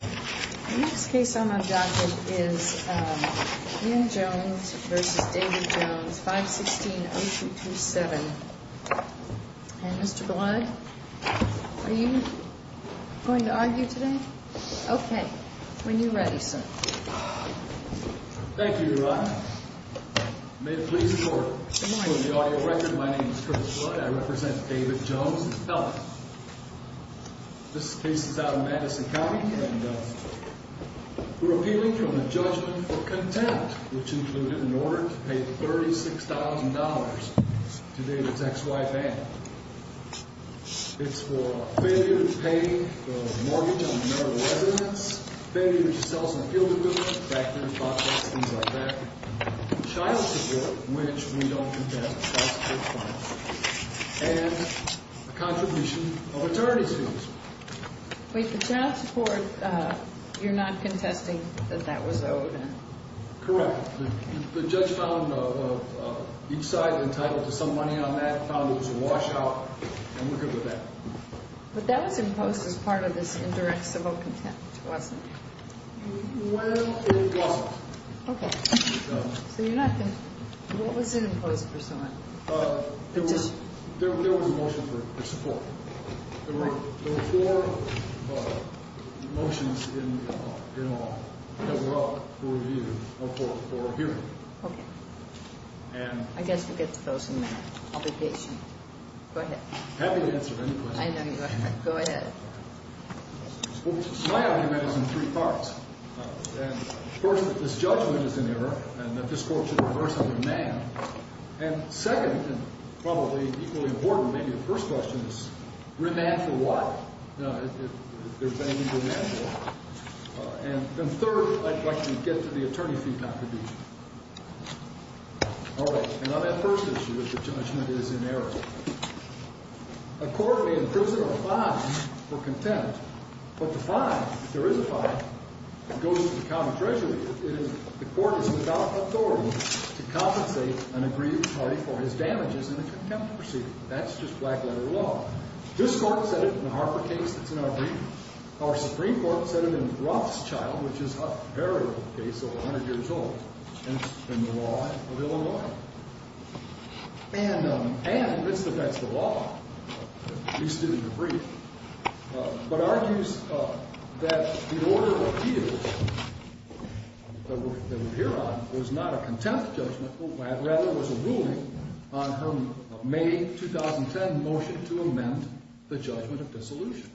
516-0227. And Mr. Blood, are you going to argue today? Okay. When you're ready, sir. Thank you, Your Honor. May it please the Court. Good morning. For the audio record, my name is Curtis Blood. I represent David Jones and Helen. This case is out of Madison County, and we're appealing from the judgment for contempt, which included an order to pay $36,000 to David's ex-wife, Anne. It's for failure to pay the mortgage on another resident's, failure to sell some field equipment, tractors, boxes, things like that, child support, which we don't contest, child support funds, and a contribution of attorney's fees. Wait, the child support, you're not contesting that that was owed? Correct. The judge found each side entitled to some money on that, found it was a washout, and we're good with that. But that was imposed as part of this indirect civil contempt, wasn't it? Well, it wasn't. Okay. So you're not going to What was it imposed for someone? There was a motion for support. There were four motions in the law that were up for review, Okay. I guess we'll get to those in the obligation. Go ahead. Happy to answer any questions. I know you are. Go ahead. My argument is in three parts. First, that this judgment is an error, and that this court should reverse and remand. And second, and probably equally important, maybe the first question is, remand for what, if there's any need to remand for what? And third, I'd like to get to the attorney fee contribution. Okay. And on that first issue, that the judgment is in error. A court may imprison a fine for contempt, but the fine, if there is a fine, goes to the common treasury. The court is without authority to compensate an aggrieved party for his damages in the contempt proceeding. That's just black-letter law. This court said it in the Harper case that's in our brief. Our Supreme Court said it in Rothschild, which is a very old case, over 100 years old. And it's been the law of Illinois. And it's the law, at least in the brief, but argues that the order of appeals that we're here on was not a contempt judgment. Rather, it was a ruling on her May 2010 motion to amend the judgment of dissolution.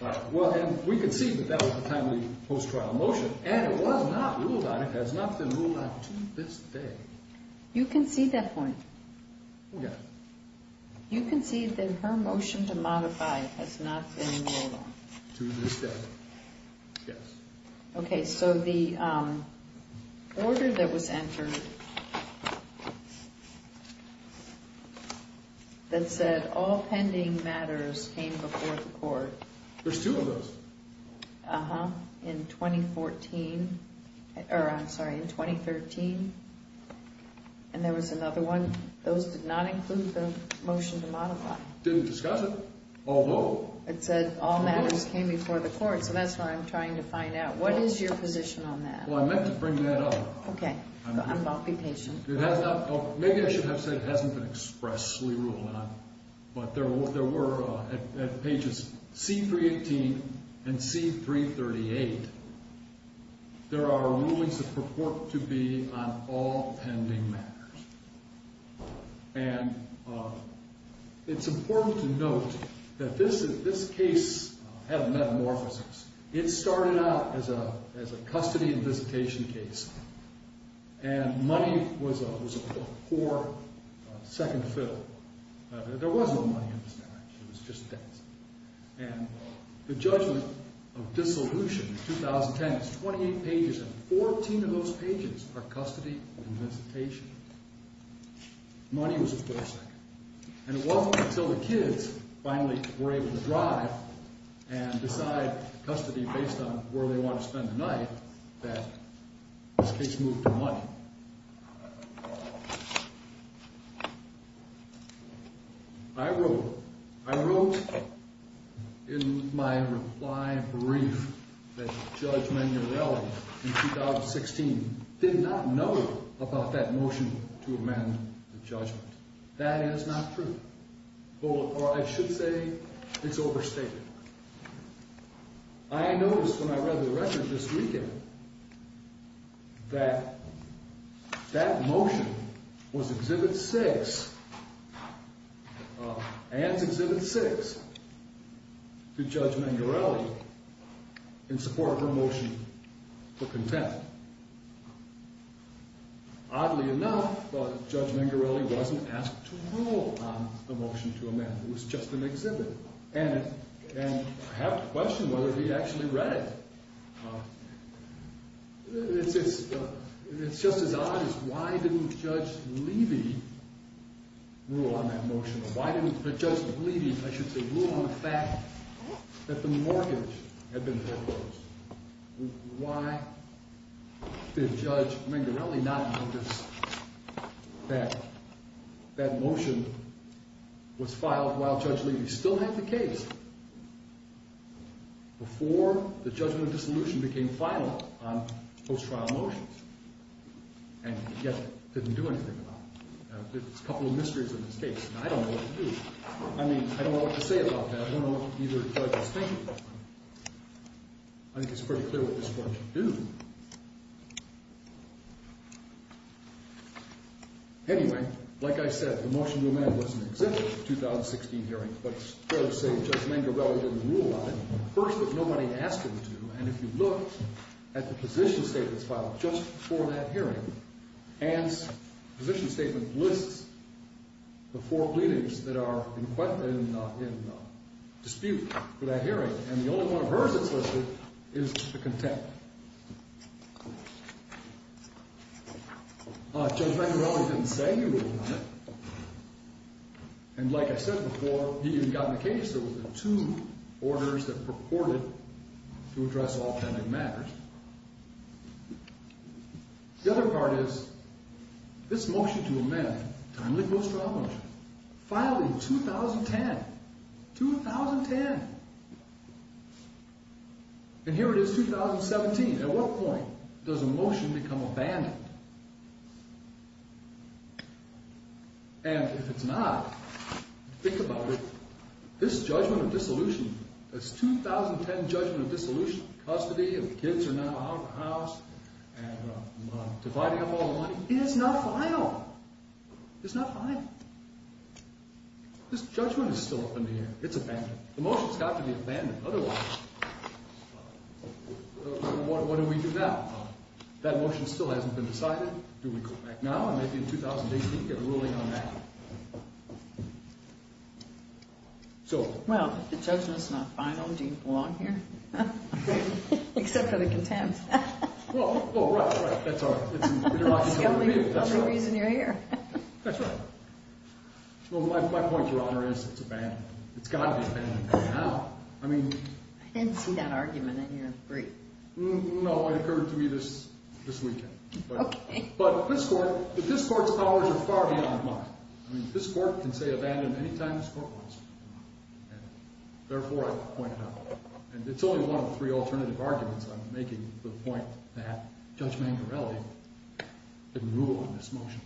All right. Well, and we can see that that was a timely post-trial motion, and it was not ruled on. It has not been ruled on to this day. You can see that point? Yes. You can see that her motion to modify has not been ruled on? To this day. Yes. Okay. So the order that was entered that said all pending matters came before the court. There's two of those. Uh-huh. In 2014. Or, I'm sorry, in 2013. And there was another one. Those did not include the motion to modify. It said all matters came before the court, so that's what I'm trying to find out. What is your position on that? Well, I meant to bring that up. Okay. I'll be patient. Maybe I should have said it hasn't been expressly ruled on. But there were, at pages C318 and C338, there are rulings that purport to be on all pending matters. And it's important to note that this case had a metamorphosis. It started out as a custody and visitation case, and money was a poor second fiddle. There was no money in this marriage. It was just debts. And the judgment of dissolution in 2010 is 28 pages, and 14 of those pages are custody and visitation. Money was a poor second. And it wasn't until the kids finally were able to drive and decide custody based on where they wanted to spend the night that this case moved to money. I wrote in my reply brief that Judge Manierelli in 2016 did not know about that motion to amend the judgment. That is not true. Or I should say it's overstated. I noticed when I read the record this weekend that that motion was Exhibit 6, and it's Exhibit 6 to Judge Manierelli in support of her motion for contempt. Oddly enough, Judge Manierelli wasn't asked to rule on a motion to amend. It was just an exhibit, and I have to question whether he actually read it. It's just as odd as why didn't Judge Levy rule on that motion, or why didn't Judge Levy, I should say, rule on the fact that the mortgage had been foreclosed? Why did Judge Manierelli not notice that that motion was filed while Judge Levy still had the case before the judgment dissolution became final on post-trial motions and yet didn't do anything about it? It's a couple of mysteries and mistakes, and I don't know what to do. I mean, I don't know what to say about that. I don't know what either judge is thinking. I think it's pretty clear what this court should do. Anyway, like I said, the motion to amend was an exhibit for the 2016 hearing, but it's fair to say that Judge Manierelli didn't rule on it. First, but nobody asked him to, and if you look at the position statements filed just before that hearing, Ann's position statement lists the four pleadings that are in dispute for that hearing, and the only one of hers that's listed is the contempt. Judge Manierelli didn't say he ruled on it, and like I said before, he even got in a case that was in two orders that purported to address authentic matters. The other part is, this motion to amend, timely post-trial motion, filed in 2010. 2010! And here it is, 2017. At what point does a motion become abandoned? And if it's not, think about it. This judgment of dissolution, this 2010 judgment of dissolution, custody, if the kids are now out of the house, and dividing up all the money. It is not final! It's not final. This judgment is still up in the air. It's abandoned. The motion's got to be abandoned. Otherwise, what do we do now? If that motion still hasn't been decided, do we go back now and maybe in 2018 get a ruling on that? Well, if the judgment's not final, do you belong here? Except for the contempt. Well, right, that's all right. Scalding breeze in your ear. That's right. Well, my point, Your Honor, is it's abandoned. It's got to be abandoned. I didn't see that argument in your brief. No, it occurred to me this weekend. Okay. But this Court's powers are far beyond mine. I mean, this Court can say abandon any time this Court wants to. Therefore, I point it out. And it's only one of three alternative arguments I'm making to the point that Judge Mangarelli didn't rule on this motion.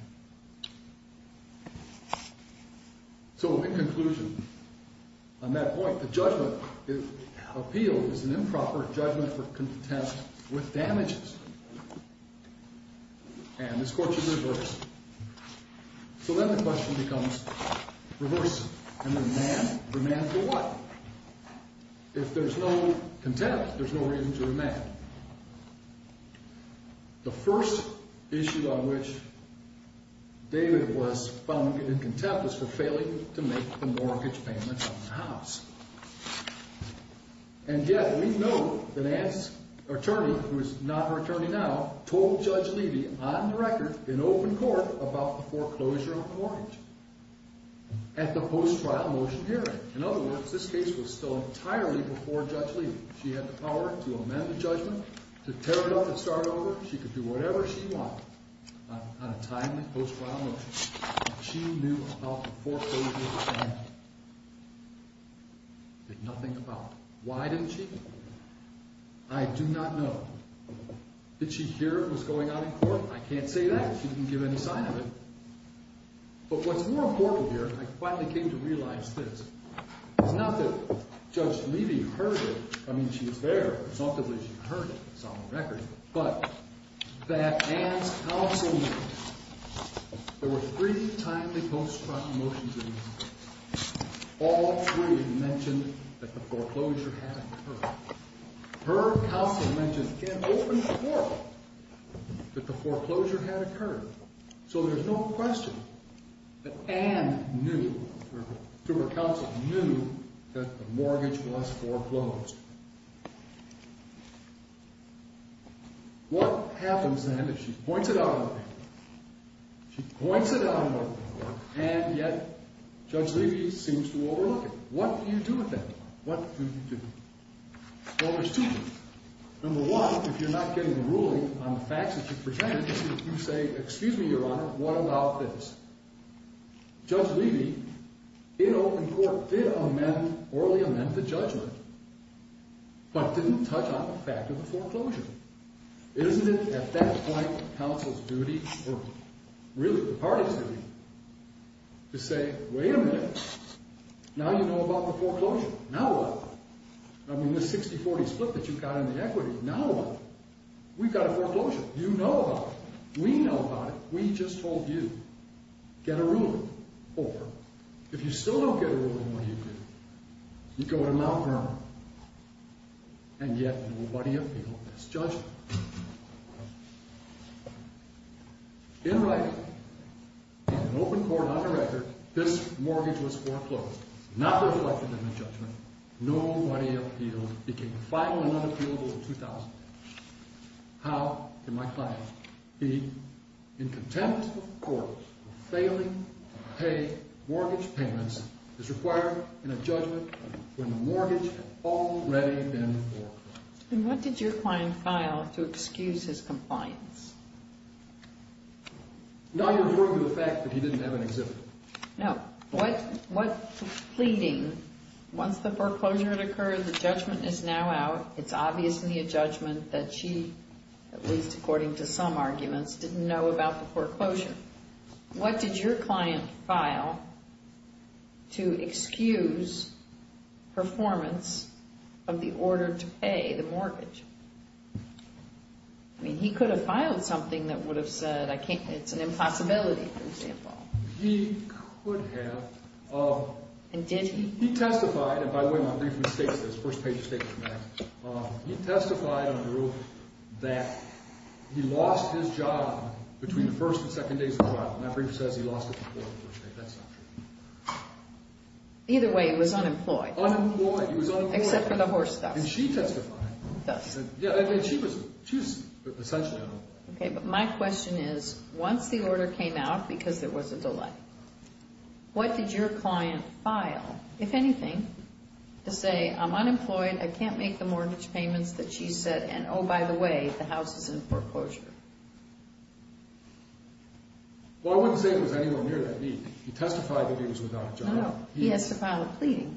So, in conclusion, on that point, the judgment, if appealed, is an improper judgment for contempt with damages. And this Court should reverse. So then the question becomes, reverse and remand? Remand for what? If there's no contempt, there's no reason to remand. The first issue on which David was found in contempt was for failing to make the mortgage payment on the house. And yet we know that Ann's attorney, who is not her attorney now, told Judge Levy on the record in open court about the foreclosure of the mortgage at the post-trial motion hearing. In other words, this case was still entirely before Judge Levy. She had the power to amend the judgment, to tear it up and start over. She could do whatever she wanted on a timely post-trial motion. She knew about the foreclosure and did nothing about it. Why didn't she? I do not know. Did she hear it was going on in court? I can't say that. She didn't give any sign of it. But what's more important here, and I finally came to realize this, is not that Judge Levy heard it. I mean, she was there. It's not that she heard it. It's on the record. But that Ann's counsel knew. There were three timely post-trial motions in this case. All three mentioned that the foreclosure had occurred. Her counsel mentioned in open court that the foreclosure had occurred. So there's no question that Ann knew, through her counsel, knew that the mortgage was foreclosed. What happens then is she points it out in open court. She points it out in open court, and yet Judge Levy seems to overlook it. What do you do with that? What do you do? Well, there's two things. Number one, if you're not getting a ruling on the facts that you present, you say, excuse me, Your Honor, what about this? Judge Levy, in open court, did amend, orally amend the judgment, but didn't touch on the fact of the foreclosure. Isn't it, at that point, counsel's duty, or really the party's duty, to say, wait a minute, now you know about the foreclosure. Now what? I mean, the 60-40 split that you got in the equity, now what? We've got a foreclosure. You know about it. We know about it. We just told you. Get a ruling. Or, if you still don't get a ruling, what do you do? You go to Mount Vernon, and yet nobody appealed this judgment. In writing, in open court, on the record, this mortgage was foreclosed. Not reflected in the judgment. Nobody appealed. It became final and unappealable in 2000. How can my client be in contempt of court for failing to pay mortgage payments is required in a judgment when the mortgage had already been foreclosed. And what did your client file to excuse his compliance? Not referring to the fact that he didn't have an exhibit. No. What pleading, once the foreclosure had occurred, the judgment is now out. It's obviously a judgment that she, at least according to some arguments, didn't know about the foreclosure. What did your client file to excuse performance of the order to pay the mortgage? I mean, he could have filed something that would have said it's an impossibility, for example. He could have. And did he? He testified, and by the way, my briefer states this. First page of statement, in fact. He testified under the rule that he lost his job between the first and second days of the trial. And my briefer says he lost it before the first day. That's not true. Either way, he was unemployed. Unemployed. He was unemployed. Except for the horse theft. Did she testify? She testified. Yes. And she was, she was essentially on it. Okay, but my question is, once the order came out, because there was a delay, what did your client file? If anything, to say I'm unemployed, I can't make the mortgage payments that she said, and oh, by the way, the house is in foreclosure. Well, I wouldn't say it was anywhere near that deep. He testified that he was without a job. No, he has to file a pleading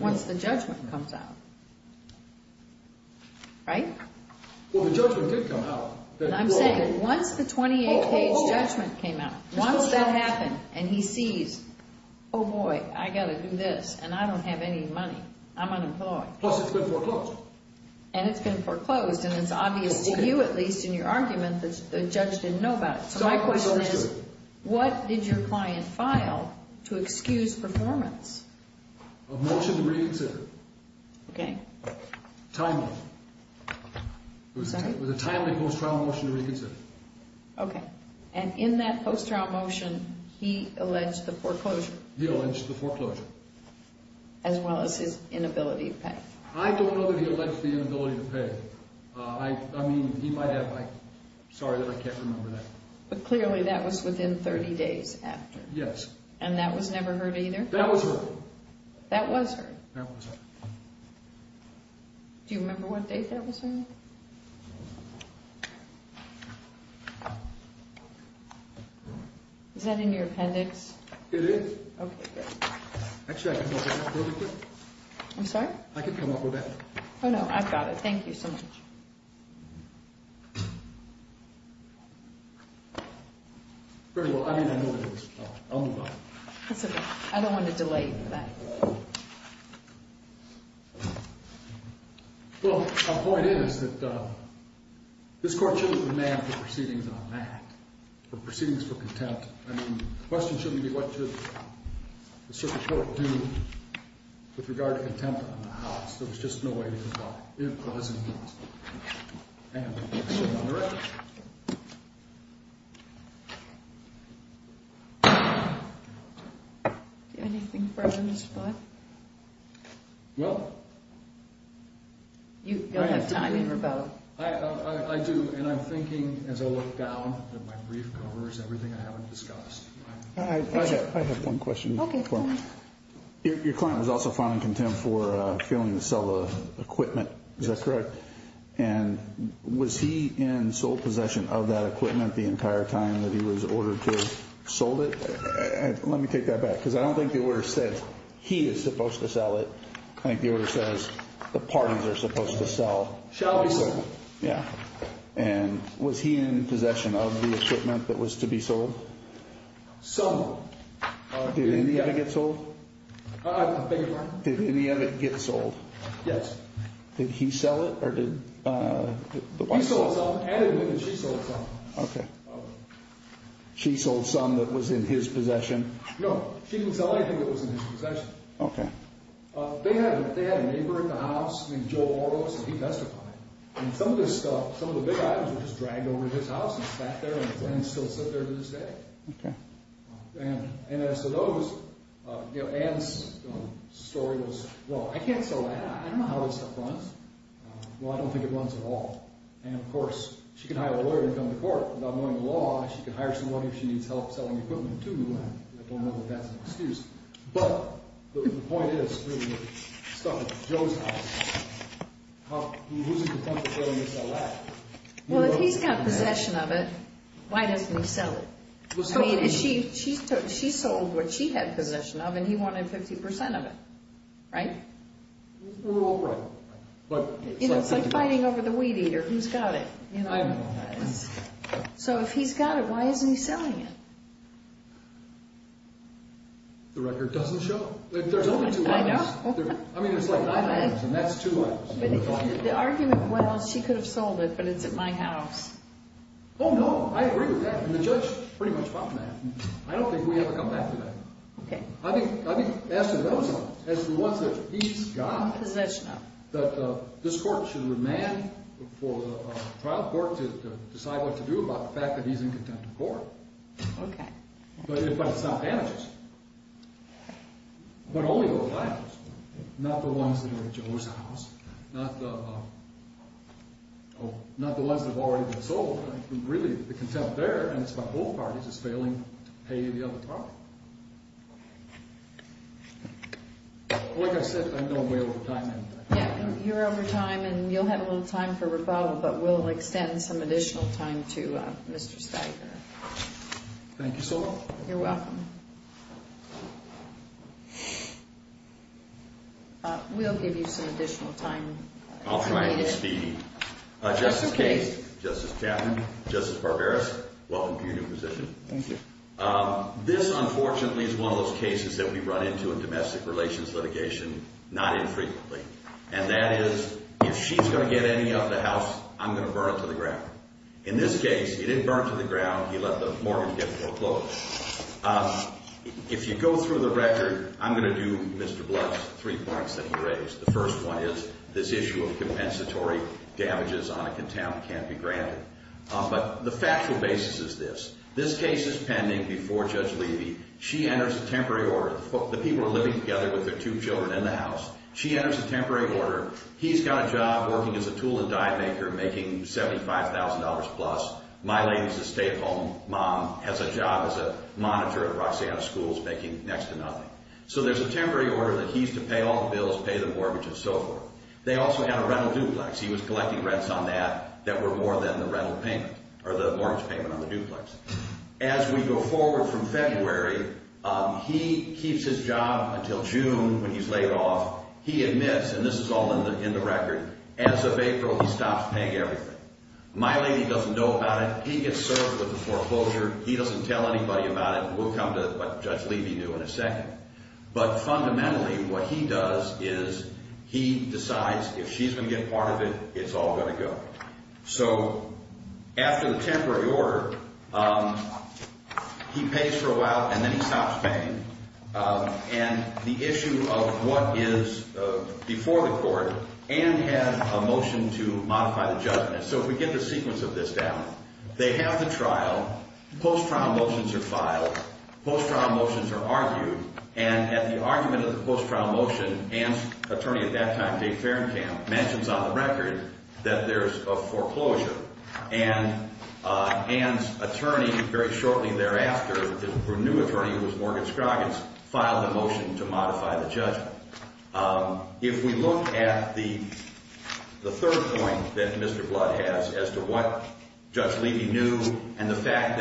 once the judgment comes out. Right? Well, the judgment did come out. I'm saying once the 28-page judgment came out, once that happened, and he sees, oh, boy, I've got to do this, and I don't have any money, I'm unemployed. Plus it's been foreclosed. And it's been foreclosed, and it's obvious to you, at least, in your argument that the judge didn't know about it. So my question is, what did your client file to excuse performance? A motion to re-consider. Okay. Timely. Sorry? It was a timely post-trial motion to reconsider. Okay. And in that post-trial motion, he alleged the foreclosure. He alleged the foreclosure. As well as his inability to pay. I don't know that he alleged the inability to pay. I mean, he might have. Sorry that I can't remember that. But clearly that was within 30 days after. Yes. And that was never heard either? That was heard. That was heard? That was heard. Do you remember what date that was heard? Is that in your appendix? It is. Okay. Actually, I can come up with that real quick. I'm sorry? I can come up with that. Oh, no, I've got it. Thank you so much. Very well. I mean, I know what it is. I'll move on. That's okay. I don't want to delay you for that. Well, my point is that this court shouldn't demand proceedings on that. Proceedings for contempt. I mean, the question shouldn't be what should the circuit court do with regard to contempt on the house. There was just no way to do that. It wasn't. And it wasn't on the record. Do you have anything further to spot? No. You don't have time to rebut. I do, and I'm thinking as I look down that my brief covers everything I haven't discussed. I have one question. Okay. Your client was also found in contempt for failing to sell the equipment. Is that correct? Yes. And was he in sole possession of that equipment the entire time that he was ordered to have sold it? Let me take that back, because I don't think the order says he is supposed to sell it. I think the order says the parties are supposed to sell. Shall be sold. Yeah. And was he in possession of the equipment that was to be sold? Some. Did any of it get sold? I beg your pardon? Did any of it get sold? Yes. Did he sell it, or did the wife sell it? He sold some, and she sold some. Okay. She sold some that was in his possession? No, she didn't sell anything that was in his possession. Okay. They had a neighbor in the house named Joe Oros, and he testified. And some of the big items were just dragged over to his house. He sat there and still sits there to this day. Okay. And as to those, Ann's story goes, well, I can't sell that. I don't know how this stuff runs. Well, I don't think it runs at all. And, of course, she can hire a lawyer to come to court. Without knowing the law, she can hire someone if she needs help selling equipment to the land. I don't know that that's an excuse. But the point is, really, the stuff at Joe's house, who's in contention of selling it to that land? Well, if he's got possession of it, why doesn't he sell it? I mean, she sold what she had possession of, and he wanted 50% of it, right? Well, right. It's like fighting over the weed eater. Who's got it? I don't know. So if he's got it, why isn't he selling it? The record doesn't show. There's only two items. I know. I mean, it's like nine items, and that's two items. The argument, well, she could have sold it, but it's at my house. Oh, no. I agree with that, and the judge pretty much bought that. I don't think we ever come back to that. Okay. I mean, as to those ones, as to the ones that he's got. Possession of. That this court should remand for the trial court to decide what to do about the fact that he's in contention of the court. Okay. But it's not damages. But only those items. Not the ones that are at Joe's house. Not the ones that have already been sold. Really, the contempt there, and it's by both parties, is failing to pay the other part. Like I said, I know I'm way over time. Yeah, you're over time, and you'll have a little time for rebuttal, but we'll extend some additional time to Mr. Steiger. Thank you so much. You're welcome. We'll give you some additional time. I'll try to speed. Justice Case, Justice Chapman, Justice Barberis, welcome to your new position. Thank you. This, unfortunately, is one of those cases that we run into in domestic relations litigation not infrequently. And that is, if she's going to get any of the house, I'm going to burn it to the ground. In this case, he didn't burn it to the ground. He let the mortgage get foreclosed. If you go through the record, I'm going to do Mr. Blood's three points that he raised. The first one is this issue of compensatory damages on a contaminant can't be granted. But the factual basis is this. This case is pending before Judge Levy. She enters a temporary order. The people are living together with their two children in the house. She enters a temporary order. He's got a job working as a tool and diet maker making $75,000-plus. My lady's a stay-at-home mom, has a job as a monitor at Roxanna Schools making next to nothing. So there's a temporary order that he's to pay all the bills, pay the mortgages, and so forth. They also had a rental duplex. He was collecting rents on that that were more than the rental payment or the mortgage payment on the duplex. As we go forward from February, he keeps his job until June when he's laid off. He admits, and this is all in the record, as of April, he stops paying everything. My lady doesn't know about it. He gets served with the foreclosure. He doesn't tell anybody about it. We'll come to what Judge Levy knew in a second. But fundamentally, what he does is he decides if she's going to get part of it, it's all going to go. So after the temporary order, he pays for a while, and then he stops paying. And the issue of what is before the court, Ann had a motion to modify the judgment. So if we get the sequence of this down, they have the trial. Post-trial motions are filed. Post-trial motions are argued. And at the argument of the post-trial motion, Ann's attorney at that time, Dave Fahrenkamp, mentions on the record that there's a foreclosure. And Ann's attorney, very shortly thereafter, her new attorney who was Morgan Scroggins, filed a motion to modify the judgment. If we look at the third point that Mr. Blood has as to what Judge Levy knew and the fact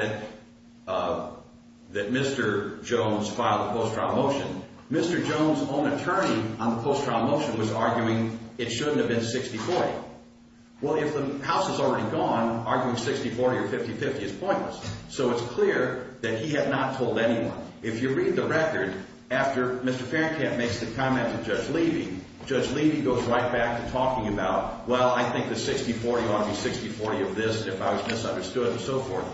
that Mr. Jones filed a post-trial motion, Mr. Jones' own attorney on the post-trial motion was arguing it shouldn't have been 60-40. Well, if the house is already gone, arguing 60-40 or 50-50 is pointless. So it's clear that he had not told anyone. If you read the record, after Mr. Fahrenkamp makes the comment to Judge Levy, Judge Levy goes right back to talking about, well, I think the 60-40 ought to be 60-40 of this if I was misunderstood and so forth.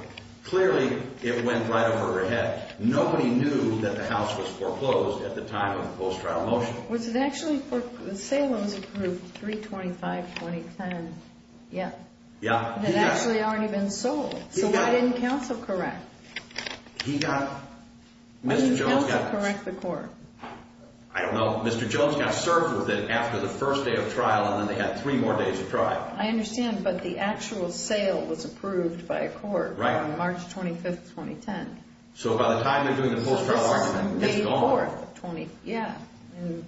Clearly, it went right over her head. Nobody knew that the house was foreclosed at the time of the post-trial motion. Was it actually for Salem's group, 325-2010? Yeah. It had actually already been sold. So why didn't counsel correct? He got – Mr. Jones got – Why didn't counsel correct the court? I don't know. Mr. Jones got served with it after the first day of trial, and then they got three more days of trial. I understand, but the actual sale was approved by a court on March 25, 2010. So by the time they're doing the post-trial argument, it's gone. Yeah.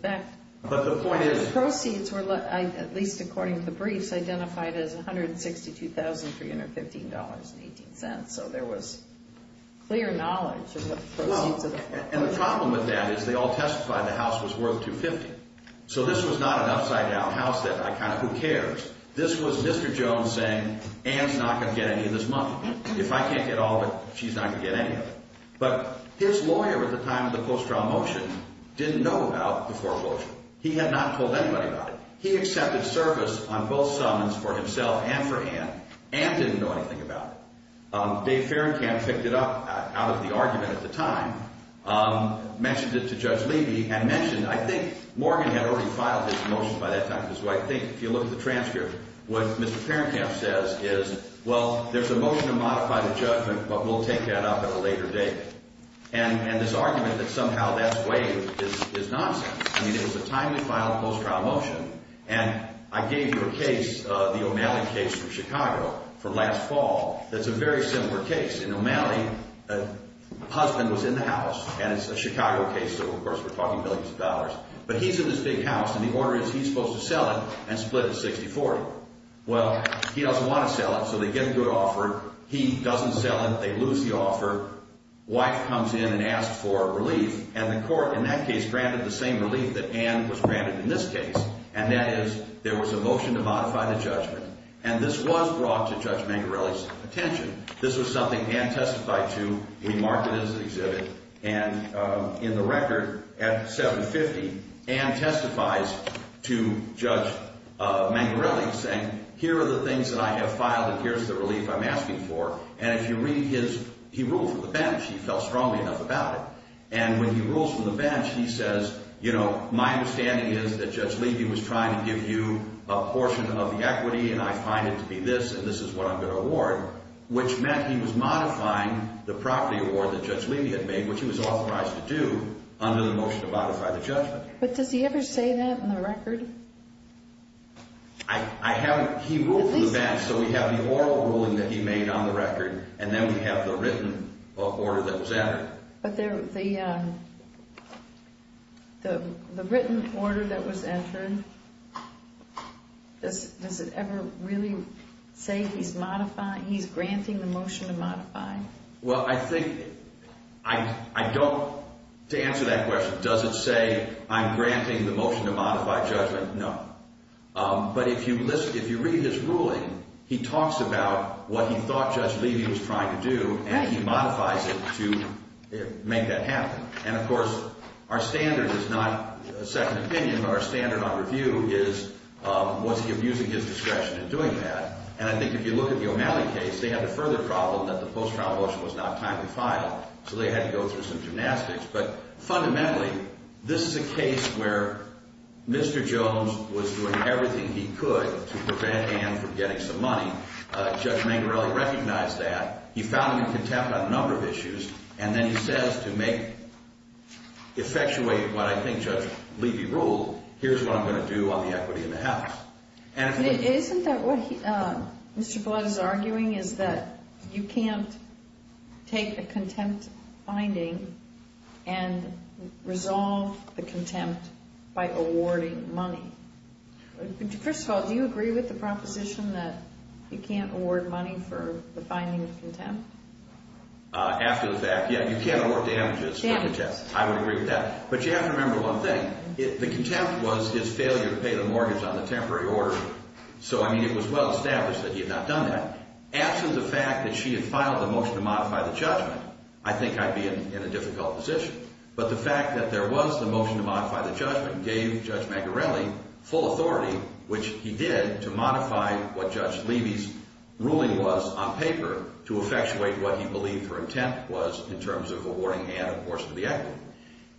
But the point is – The proceeds were, at least according to the briefs, identified as $162,315.18. So there was clear knowledge of the proceeds of the foreclosure. And the problem with that is they all testified the house was worth 250. So this was not an upside-down house that I kind of – who cares? This was Mr. Jones saying Ann's not going to get any of this money. If I can't get all of it, she's not going to get any of it. But his lawyer at the time of the post-trial motion didn't know about the foreclosure. He had not told anybody about it. He accepted service on both summons for himself and for Ann. Ann didn't know anything about it. Dave Ferencamp picked it up out of the argument at the time, mentioned it to Judge Levy, and mentioned – I think Morgan had already filed his motion by that time. So I think if you look at the transcript, what Mr. Ferencamp says is, well, there's a motion to modify the judgment, but we'll take that up at a later date. And this argument that somehow that's waived is nonsense. I mean, it was the time we filed the post-trial motion. And I gave you a case, the O'Malley case from Chicago from last fall. It's a very similar case. In O'Malley, a husband was in the house. And it's a Chicago case, so of course we're talking billions of dollars. But he's in this big house, and the order is he's supposed to sell it and split it 60-40. Well, he doesn't want to sell it, so they get a good offer. He doesn't sell it. They lose the offer. Wife comes in and asks for relief. And the court in that case granted the same relief that Ann was granted in this case, and that is there was a motion to modify the judgment. And this was brought to Judge Mangarelli's attention. This was something Ann testified to. We mark it as an exhibit. And in the record at 750, Ann testifies to Judge Mangarelli saying, here are the things that I have filed, and here's the relief I'm asking for. And if you read his, he ruled for the bench. He felt strongly enough about it. And when he rules for the bench, he says, you know, my understanding is that Judge Levy was trying to give you a portion of the equity, and I find it to be this, and this is what I'm going to award, which meant he was modifying the property award that Judge Levy had made, which he was authorized to do under the motion to modify the judgment. But does he ever say that in the record? I haven't. He ruled for the bench, so we have the oral ruling that he made on the record, and then we have the written order that was entered. But the written order that was entered, does it ever really say he's modifying, he's granting the motion to modify? Well, I think I don't, to answer that question, does it say I'm granting the motion to modify judgment? No. But if you listen, if you read his ruling, he talks about what he thought Judge Levy was trying to do, and he modifies it to make that happen. And, of course, our standard is not a second opinion, but our standard on review is was he abusing his discretion in doing that? And I think if you look at the O'Malley case, they had the further problem that the post-trial motion was not timely filed, so they had to go through some gymnastics. But fundamentally, this is a case where Mr. Jones was doing everything he could to prevent Ann from getting some money. Judge Mangarelli recognized that. He found him in contempt on a number of issues, and then he says to make, effectuate what I think Judge Levy ruled, here's what I'm going to do on the equity in the House. Isn't that what Mr. Blood is arguing, is that you can't take a contempt finding and resolve the contempt by awarding money? First of all, do you agree with the proposition that you can't award money for the finding of contempt? After the fact, yeah, you can't award damages. Damages. I would agree with that. But you have to remember one thing. The contempt was his failure to pay the mortgage on the temporary order. So, I mean, it was well established that he had not done that. After the fact that she had filed the motion to modify the judgment, I think I'd be in a difficult position. But the fact that there was the motion to modify the judgment gave Judge Mangarelli full authority, which he did to modify what Judge Levy's ruling was on paper to effectuate what he believed her intent was in terms of awarding Ann a portion of the equity.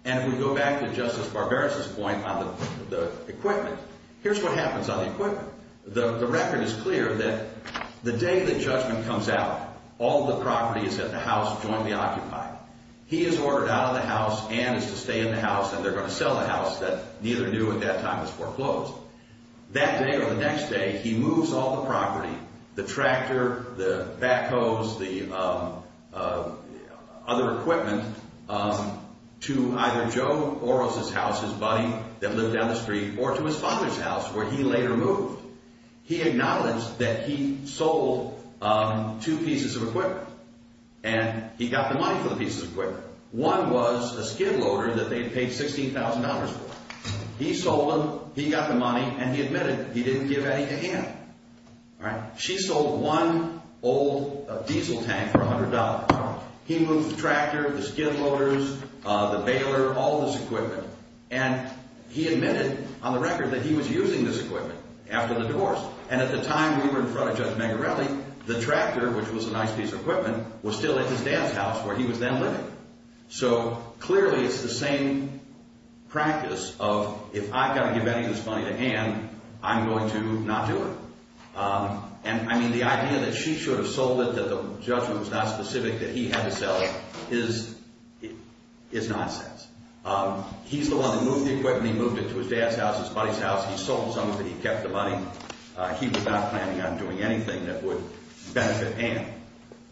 And if we go back to Justice Barbera's point on the equipment, here's what happens on the equipment. The record is clear that the day that judgment comes out, all the property is at the house jointly occupied. He is ordered out of the house, Ann is to stay in the house, and they're going to sell the house that neither knew at that time was foreclosed. That day or the next day, he moves all the property, the tractor, the backhoes, the other equipment, to either Joe Oros' house, his buddy that lived down the street, or to his father's house where he later moved. He acknowledged that he sold two pieces of equipment, and he got the money for the pieces of equipment. One was a skid loader that they had paid $16,000 for. He sold them, he got the money, and he admitted he didn't give any to Ann. She sold one old diesel tank for $100. He moved the tractor, the skid loaders, the baler, all this equipment. And he admitted on the record that he was using this equipment after the divorce. And at the time we were in front of Judge Megarelli, the tractor, which was a nice piece of equipment, was still at his dad's house where he was then living. So clearly it's the same practice of, if I've got to give any of this money to Ann, I'm going to not do it. And, I mean, the idea that she should have sold it, that the judgment was not specific, that he had to sell it, is nonsense. He's the one that moved the equipment. He moved it to his dad's house, his buddy's house. He sold some of it, he kept the money. He was not planning on doing anything that would benefit Ann.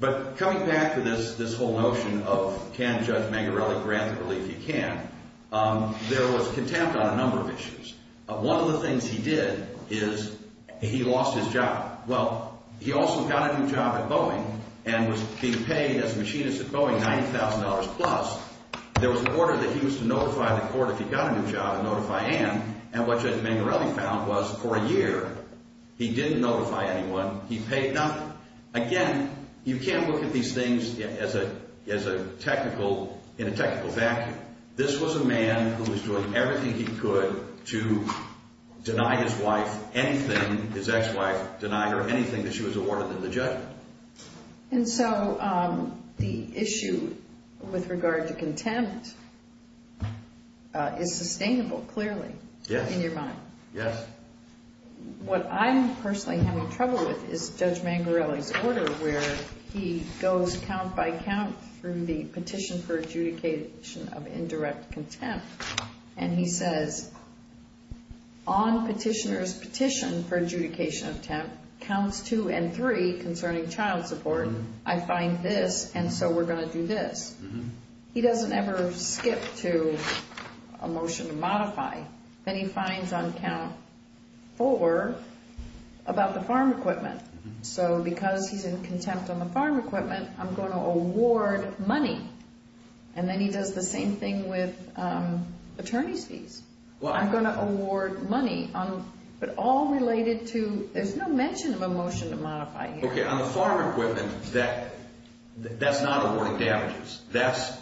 But coming back to this whole notion of, can Judge Megarelli grant the relief? He can. There was contempt on a number of issues. One of the things he did is he lost his job. Well, he also got a new job at Boeing and was being paid as a machinist at Boeing $90,000 plus. There was an order that he was to notify the court if he got a new job and notify Ann. And what Judge Megarelli found was, for a year, he didn't notify anyone, he paid nothing. Again, you can't look at these things in a technical vacuum. This was a man who was doing everything he could to deny his wife anything, his ex-wife, deny her anything that she was awarded in the judgment. And so the issue with regard to contempt is sustainable, clearly, in your mind. Yes. What I'm personally having trouble with is Judge Megarelli's order where he goes count by count through the petition for adjudication of indirect contempt. And he says, on petitioner's petition for adjudication of contempt, counts two and three concerning child support, I find this, and so we're going to do this. He doesn't ever skip to a motion to modify. Then he finds on count four about the farm equipment. So because he's in contempt on the farm equipment, I'm going to award money. And then he does the same thing with attorney's fees. I'm going to award money. But all related to, there's no mention of a motion to modify here. Okay, on the farm equipment, that's not awarding damages. That's,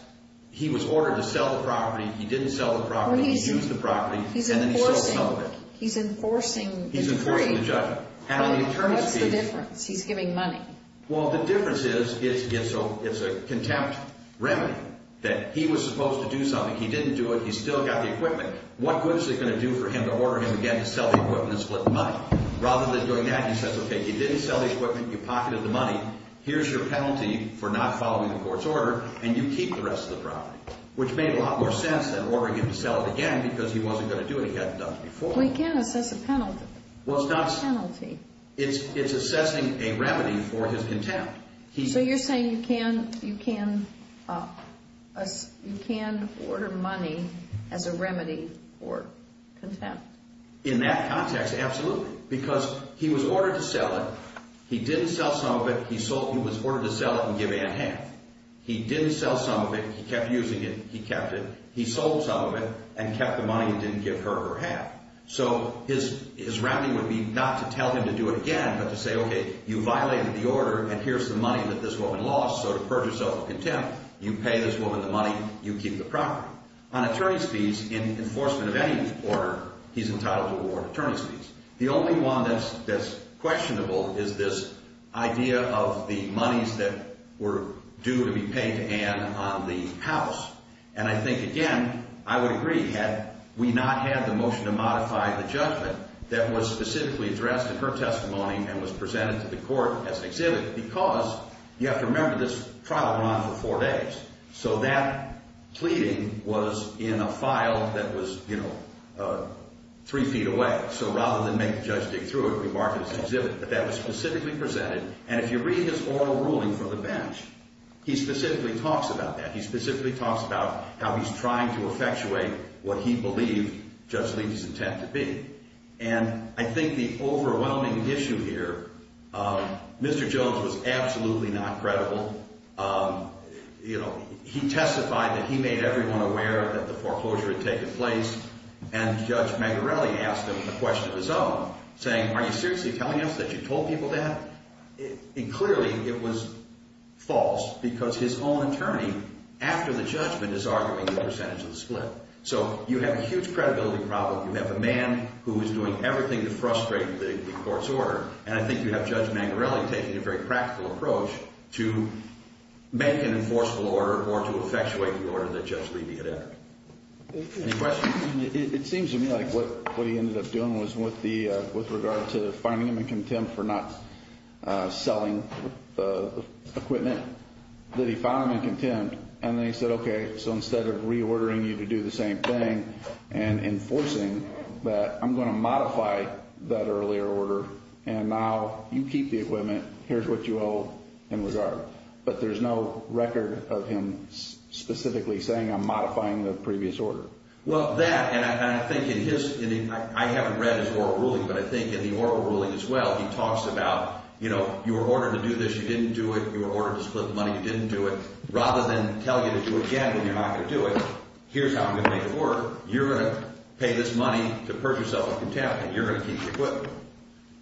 he was ordered to sell the property, he didn't sell the property, he used the property, and then he sold some of it. He's enforcing the judgment. What's the difference? He's giving money. Well, the difference is it's a contempt remedy, that he was supposed to do something. He didn't do it. He still got the equipment. What good is it going to do for him to order him again to sell the equipment and split the money? Rather than doing that, he says, okay, he didn't sell the equipment, you pocketed the money, here's your penalty for not following the court's order, and you keep the rest of the property, which made a lot more sense than ordering him to sell it again because he wasn't going to do it. He hadn't done it before. Well, he can't assess a penalty. It's assessing a remedy for his contempt. So you're saying you can order money as a remedy for contempt? In that context, absolutely, because he was ordered to sell it. He didn't sell some of it. He was ordered to sell it and give Anne half. He didn't sell some of it. He kept using it. He kept it. He sold some of it and kept the money and didn't give her her half. So his remedy would be not to tell him to do it again, but to say, okay, you violated the order, and here's the money that this woman lost. So to purge yourself of contempt, you pay this woman the money, you keep the property. On attorney's fees, in enforcement of any order, he's entitled to award attorney's fees. The only one that's questionable is this idea of the monies that were due to be paid to Anne on the house. And I think, again, I would agree. Had we not had the motion to modify the judgment that was specifically addressed in her testimony and was presented to the court as an exhibit, because you have to remember this trial ran for four days. So that pleading was in a file that was, you know, three feet away. So rather than make the judge dig through it, we marked it as an exhibit. But that was specifically presented. And if you read his oral ruling for the bench, he specifically talks about that. He specifically talks about how he's trying to effectuate what he believed Judge Levy's intent to be. And I think the overwhelming issue here, Mr. Jones was absolutely not credible. You know, he testified that he made everyone aware that the foreclosure had taken place, and Judge Magarelli asked him a question of his own, saying, are you seriously telling us that you told people that? And clearly it was false because his own attorney, after the judgment, is arguing the percentage of the split. So you have a huge credibility problem. You have a man who is doing everything to frustrate the court's order. And I think you have Judge Magarelli taking a very practical approach to make an enforceable order or to effectuate the order that Judge Levy had entered. Any questions? It seems to me like what he ended up doing was with regard to finding him in contempt for not selling the equipment, that he found him in contempt. And then he said, okay, so instead of reordering you to do the same thing and enforcing that, I'm going to modify that earlier order. And now you keep the equipment. Here's what you owe in regard. But there's no record of him specifically saying, I'm modifying the previous order. Well, that, and I think in his, I haven't read his oral ruling, but I think in the oral ruling as well, he talks about, you know, you were ordered to do this. You didn't do it. You were ordered to split the money. You didn't do it. Rather than tell you to do it again when you're not going to do it, here's how I'm going to make it work. You're going to pay this money to purge yourself of contempt, and you're going to keep the equipment,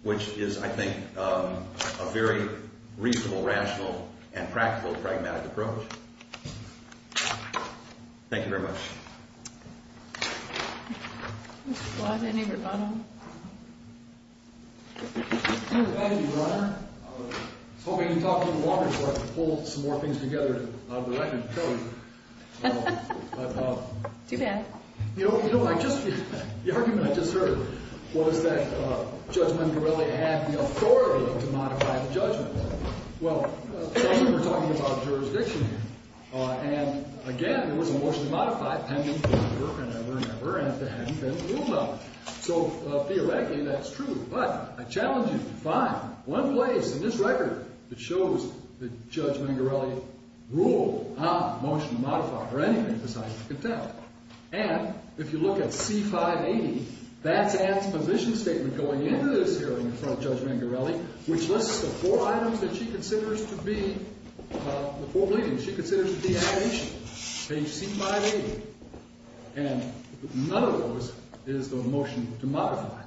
which is, I think, a very reasonable, rational, and practical, pragmatic approach. Thank you very much. Thank you, Your Honor. I was hoping you'd talk a little longer before I pull some more things together that I can show you. Too bad. You know, I just, the argument I just heard was that Judge Mongarelli had the authority to modify the judgment. Well, we're talking about a jurisdiction here. And, again, there was a motion to modify pending forever and ever and ever, and there hadn't been a rule about it. So, theoretically, that's true. But I challenge you to find one place in this record that shows that Judge Mongarelli ruled on a motion to modify, or anything besides contempt. And if you look at C580, that's Ant's position statement going into this hearing in front of Judge Mongarelli, which lists the four items that she considers to be, the four beliefs she considers to be abnegation. Page C580. And none of those is the motion to modify.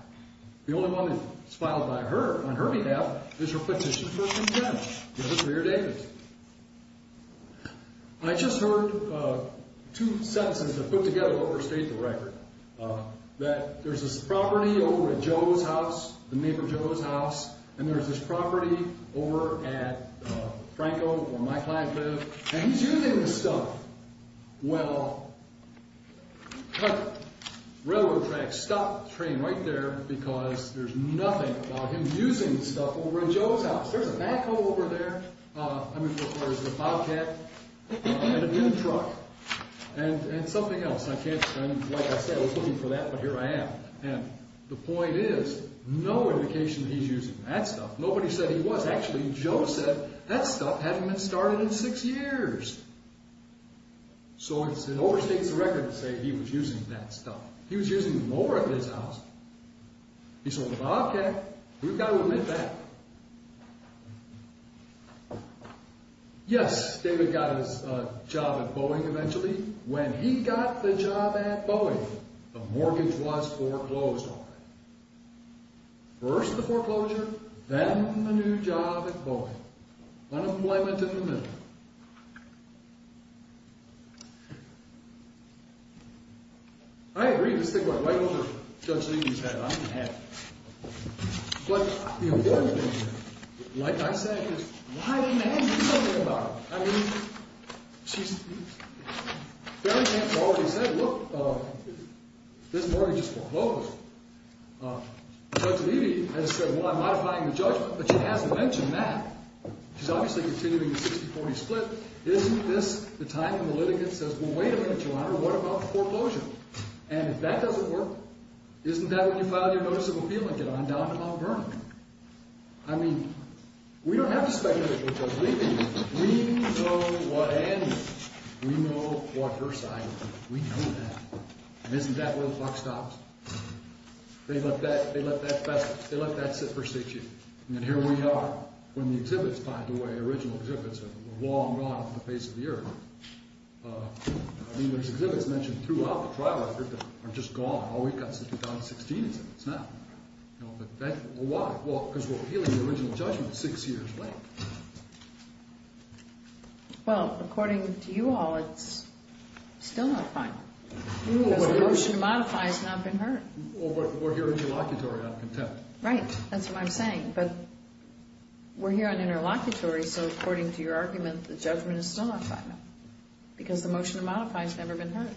The only one that's filed by her, on her behalf, is her petition for contempt. Because it's very dangerous. I just heard two sentences that put together what were stated in the record, that there's this property over at Joe's house, the neighbor Joe's house, and there's this property over at Franco, where my clients live, and he's using the stuff. Well, the railroad track stopped the train right there because there's nothing about him using the stuff over at Joe's house. There's a backhoe over there. I mean, there's a bobcat and a dude truck. And something else. Like I said, I was looking for that, but here I am. And the point is, no indication that he's using that stuff. Nobody said he was. Actually, Joe said that stuff hadn't been started in six years. So it overstates the record to say he was using that stuff. He was using them over at his house. He said, well, okay. We've got to admit that. Yes, David got his job at Boeing eventually. When he got the job at Boeing, the mortgage was foreclosed on him. First the foreclosure, then the new job at Boeing. Unemployment in the middle. I agree. Just think about it. Why don't you just judge things as they are? I'm happy. But the important thing here, like I said, is why didn't Angie do something about it? I mean, she's—Barry Jantz already said, look, this mortgage is foreclosed. Judge Levy has said, well, I'm modifying the judgment. But she hasn't mentioned that. She's obviously continuing the 60-40 split. Isn't this the time when the litigant says, well, wait a minute, Your Honor, what about the foreclosure? And if that doesn't work, isn't that when you file your notice of appeal and get on down to Mount Vernon? I mean, we don't have to speculate with Judge Levy. We know what Angie—we know what her side is. We know that. And isn't that where the clock stops? They let that—they let that—they let that sit for six years. And here we are when the exhibits—by the way, the original exhibits are long gone from the face of the earth. I mean, there's exhibits mentioned throughout the trial record that are just gone. All we've got since 2016 is that it's not. But why? Well, because we're appealing the original judgment six years late. Well, according to you all, it's still not final. Because the motion to modify has not been heard. Well, but we're here on interlocutory out of contempt. Right. That's what I'm saying. But we're here on interlocutory, so according to your argument, the judgment is still not final. Because the motion to modify has never been heard.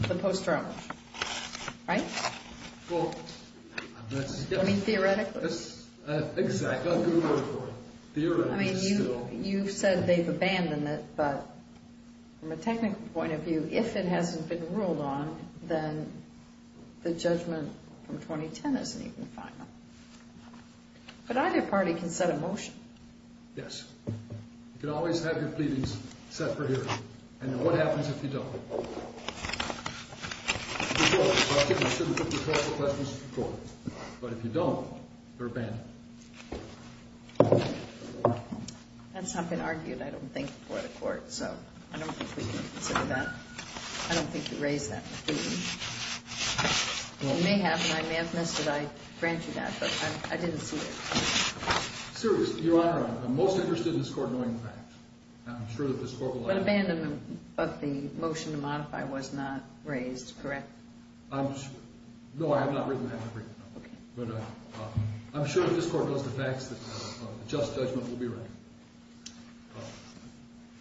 It's a post-trial motion. Right? Well, that's— I mean, theoretically. Exactly. That's a good word for it. Theoretically, it's still— I mean, you've said they've abandoned it, but from a technical point of view, if it hasn't been ruled on, then the judgment from 2010 isn't even final. But either party can set a motion. Yes. You can always have your pleadings set for hearing. And what happens if you don't? If you don't, you have to consider putting it before the questions of the court. But if you don't, you're abandoned. That's not been argued, I don't think, before the court. So I don't think we can consider that. I don't think you raised that with me. You may have, and I may have missed it. I grant you that, but I didn't see it. Sirius, Your Honor, I'm most interested in this court knowing the facts. I'm sure that this court will— But abandonment of the motion to modify was not raised, correct? I'm—no, I have not written that. Okay. But I'm sure if this court knows the facts, the just judgment will be right.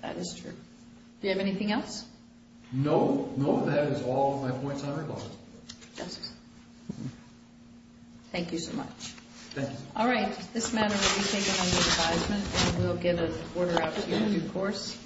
That is true. Do you have anything else? No. No, that is all of my points on regard. Yes, sir. Thank you so much. Thank you. All right. This matter will be taken under advisement, and we'll get an order out to you in due course.